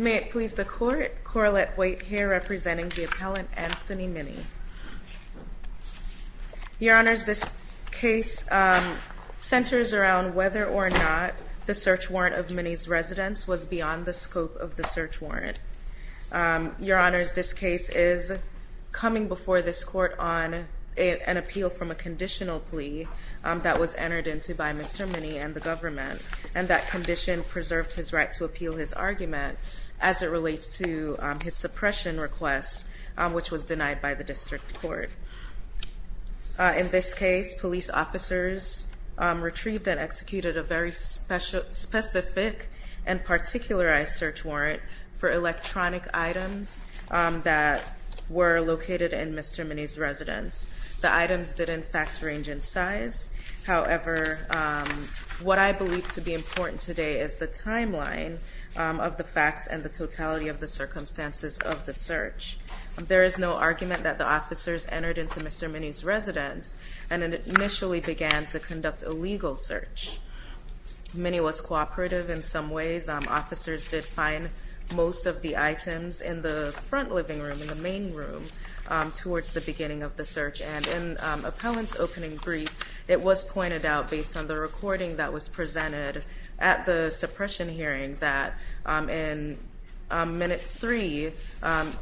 May it please the court, Corlett White here representing the appellant Anthony Minney. Your honors, this case centers around whether or not the search warrant of Minney's residence was beyond the scope of the search warrant. Your honors, this case is coming before this court on an appeal from a conditional plea that was entered into by Mr. Minney and the government, and that condition preserved his right to appeal his argument as it relates to his suppression request, which was denied by the district court. In this case, police officers retrieved and executed a very specific and particularized search warrant for electronic items that were located in Mr. Minney's residence. The items did in fact range in size, however, what I believe to be important today is the timeline of the facts and the totality of the circumstances of the search. There is no argument that the officers entered into Mr. Minney's residence and initially began to conduct a legal search. Minney was cooperative in some ways. Officers did find most of the items in the front living room, in the main room, towards the beginning of the search, and in appellant's opening brief, it was pointed out based on the recording that was presented at the suppression hearing that in minute three,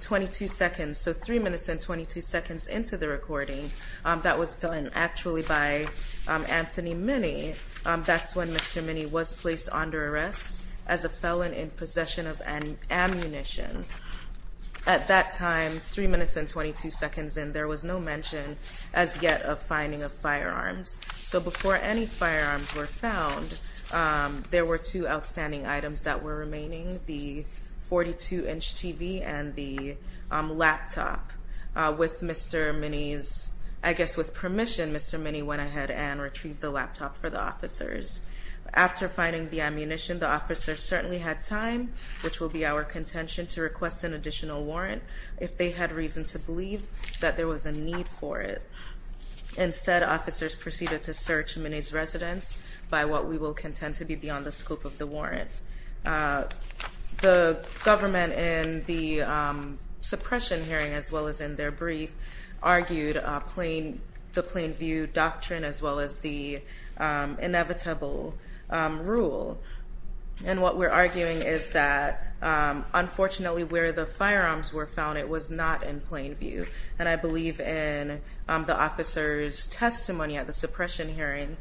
22 seconds, so three minutes and 22 seconds into the recording, that was done actually by Anthony Minney. That's when Mr. Minney was placed under arrest as a felon in possession of an ammunition. At that time, three minutes and 22 seconds in, there was no mention as yet of finding of firearms. So before any firearms were found, there were two outstanding items that were remaining, the 42 inch TV and the laptop. With Mr. Minney's, I guess with permission, Mr. Minney went ahead and retrieved the laptop for the officers. After finding the ammunition, the officers certainly had time, which will be our contention to request an additional warrant, if they had reason to believe that there was a need for it. Instead, officers proceeded to search Minney's residence by what we will contend to be beyond the scope of the warrants. The government in the suppression hearing, as well as in their brief, argued the plain view doctrine, as well as the inevitable rule. And what we're arguing is that, unfortunately, where the firearms were found, it was not in plain view. And I believe in the officer's testimony at the suppression hearing,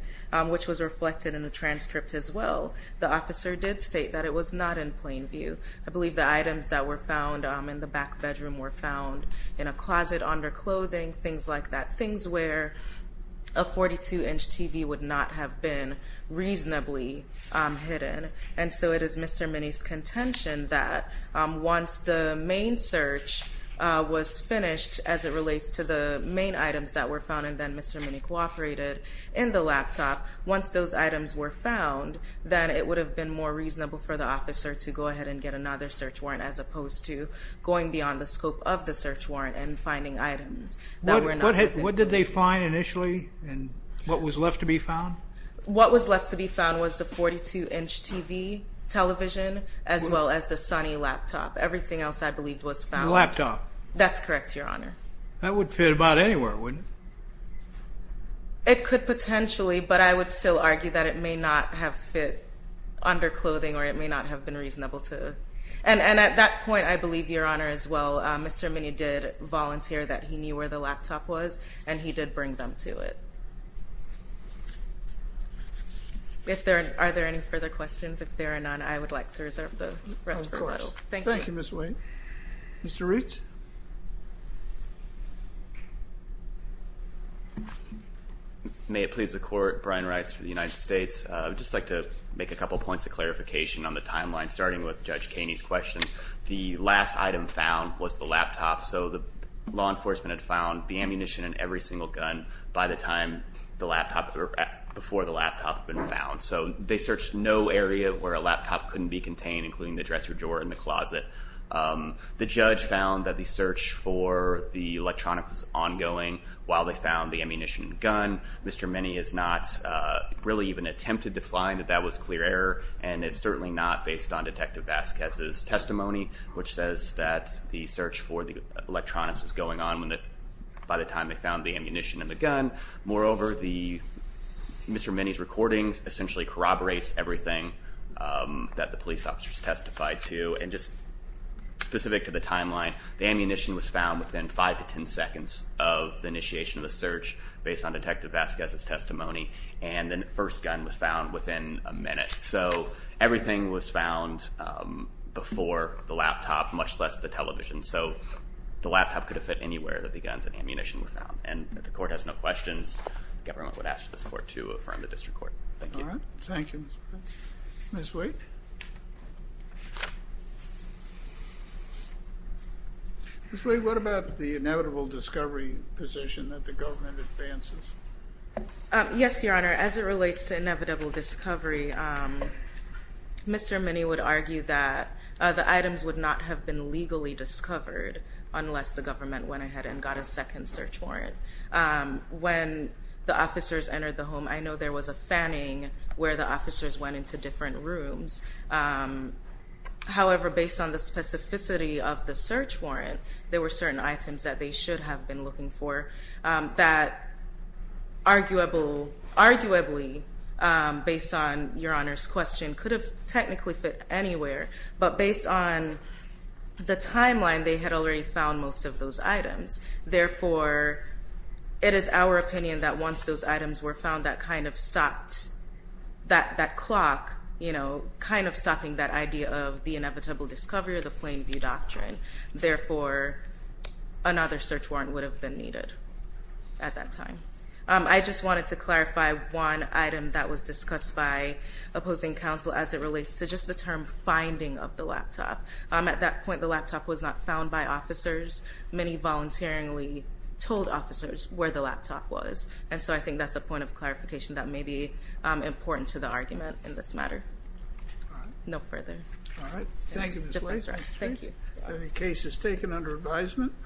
which was reflected in the transcript as well, the officer did state that it was not in plain view. I believe the items that were found in the back bedroom were found in a closet, under clothing, things like that. Things where a 42 inch TV would not have been reasonably hidden. And so it is Mr. Minney's contention that once the main search was finished, as it relates to the main items that were found, and then Mr. Minney cooperated in the laptop, once those items were found, then it would have been more reasonable for the officer to go ahead and get another search warrant, as opposed to going beyond the scope of the search warrant and finding items that were not. What did they find initially, and what was left to be found? What was left to be found was the 42 inch TV, television, as well as the sunny laptop. Everything else, I believe, was found. Laptop. That's correct, Your Honor. That would fit about anywhere, wouldn't it? It could potentially, but I would still argue that it may not have fit under clothing or it may not have been reasonable to... And at that point, I believe, Your Honor, as well, Mr. Minney did volunteer that he did bring them to it. Are there any further questions? If there are none, I would like to reserve the rest for a little. Thank you. Thank you, Ms. Wayne. Mr. Reitz? May it please the Court. Brian Reitz for the United States. I would just like to make a couple points of clarification on the timeline, starting with Judge Kaney's question. The last item found was the laptop, so the law enforcement had found the ammunition in every single gun by the time the laptop, or before the laptop had been found. So they searched no area where a laptop couldn't be contained, including the dresser drawer in the closet. The judge found that the search for the electronics was ongoing while they found the ammunition and gun. Mr. Minney has not really even attempted to find that that was clear error, and it's certainly not based on Detective Vasquez's testimony, which says that the search for the electronics was going on by the time they found the ammunition and the gun. Moreover, Mr. Minney's recording essentially corroborates everything that the police officers testified to, and just specific to the timeline, the ammunition was found within five to ten seconds of the initiation of the search, based on Detective Vasquez's testimony, and the first gun was found within a minute. So everything was found before the laptop, much less the television. So the laptop could have fit anywhere that the guns and ammunition were found. And if the court has no questions, the government would ask for the support to affirm the district Thank you. All right. Thank you, Mr. Prince. Ms. Wade? Ms. Wade, what about the inevitable discovery position that the government advances? Yes, Your Honor. As it relates to inevitable discovery, Mr. Minney would argue that the items would not have been legally discovered unless the government went ahead and got a second search warrant. When the officers entered the home, I know there was a fanning where the officers went into different rooms. However, based on the specificity of the search warrant, there were certain items that they should have been looking for that arguably, based on Your Honor's question, could have technically fit anywhere. But based on the timeline, they had already found most of those items. Therefore, it is our opinion that once those items were found, that kind of stopped, that clock, you know, kind of stopping that idea of the inevitable discovery or the plain view doctrine. Therefore, another search warrant would have been needed at that time. I just wanted to clarify one item that was discussed by opposing counsel as it relates to just the term finding of the laptop. At that point, the laptop was not found by officers. Many voluntarily told officers where the laptop was. And so I think that's a point of clarification that may be important to the argument in this matter. All right. No further. All right. Thank you, Ms. Williams. Thank you. The case is taken under advisement.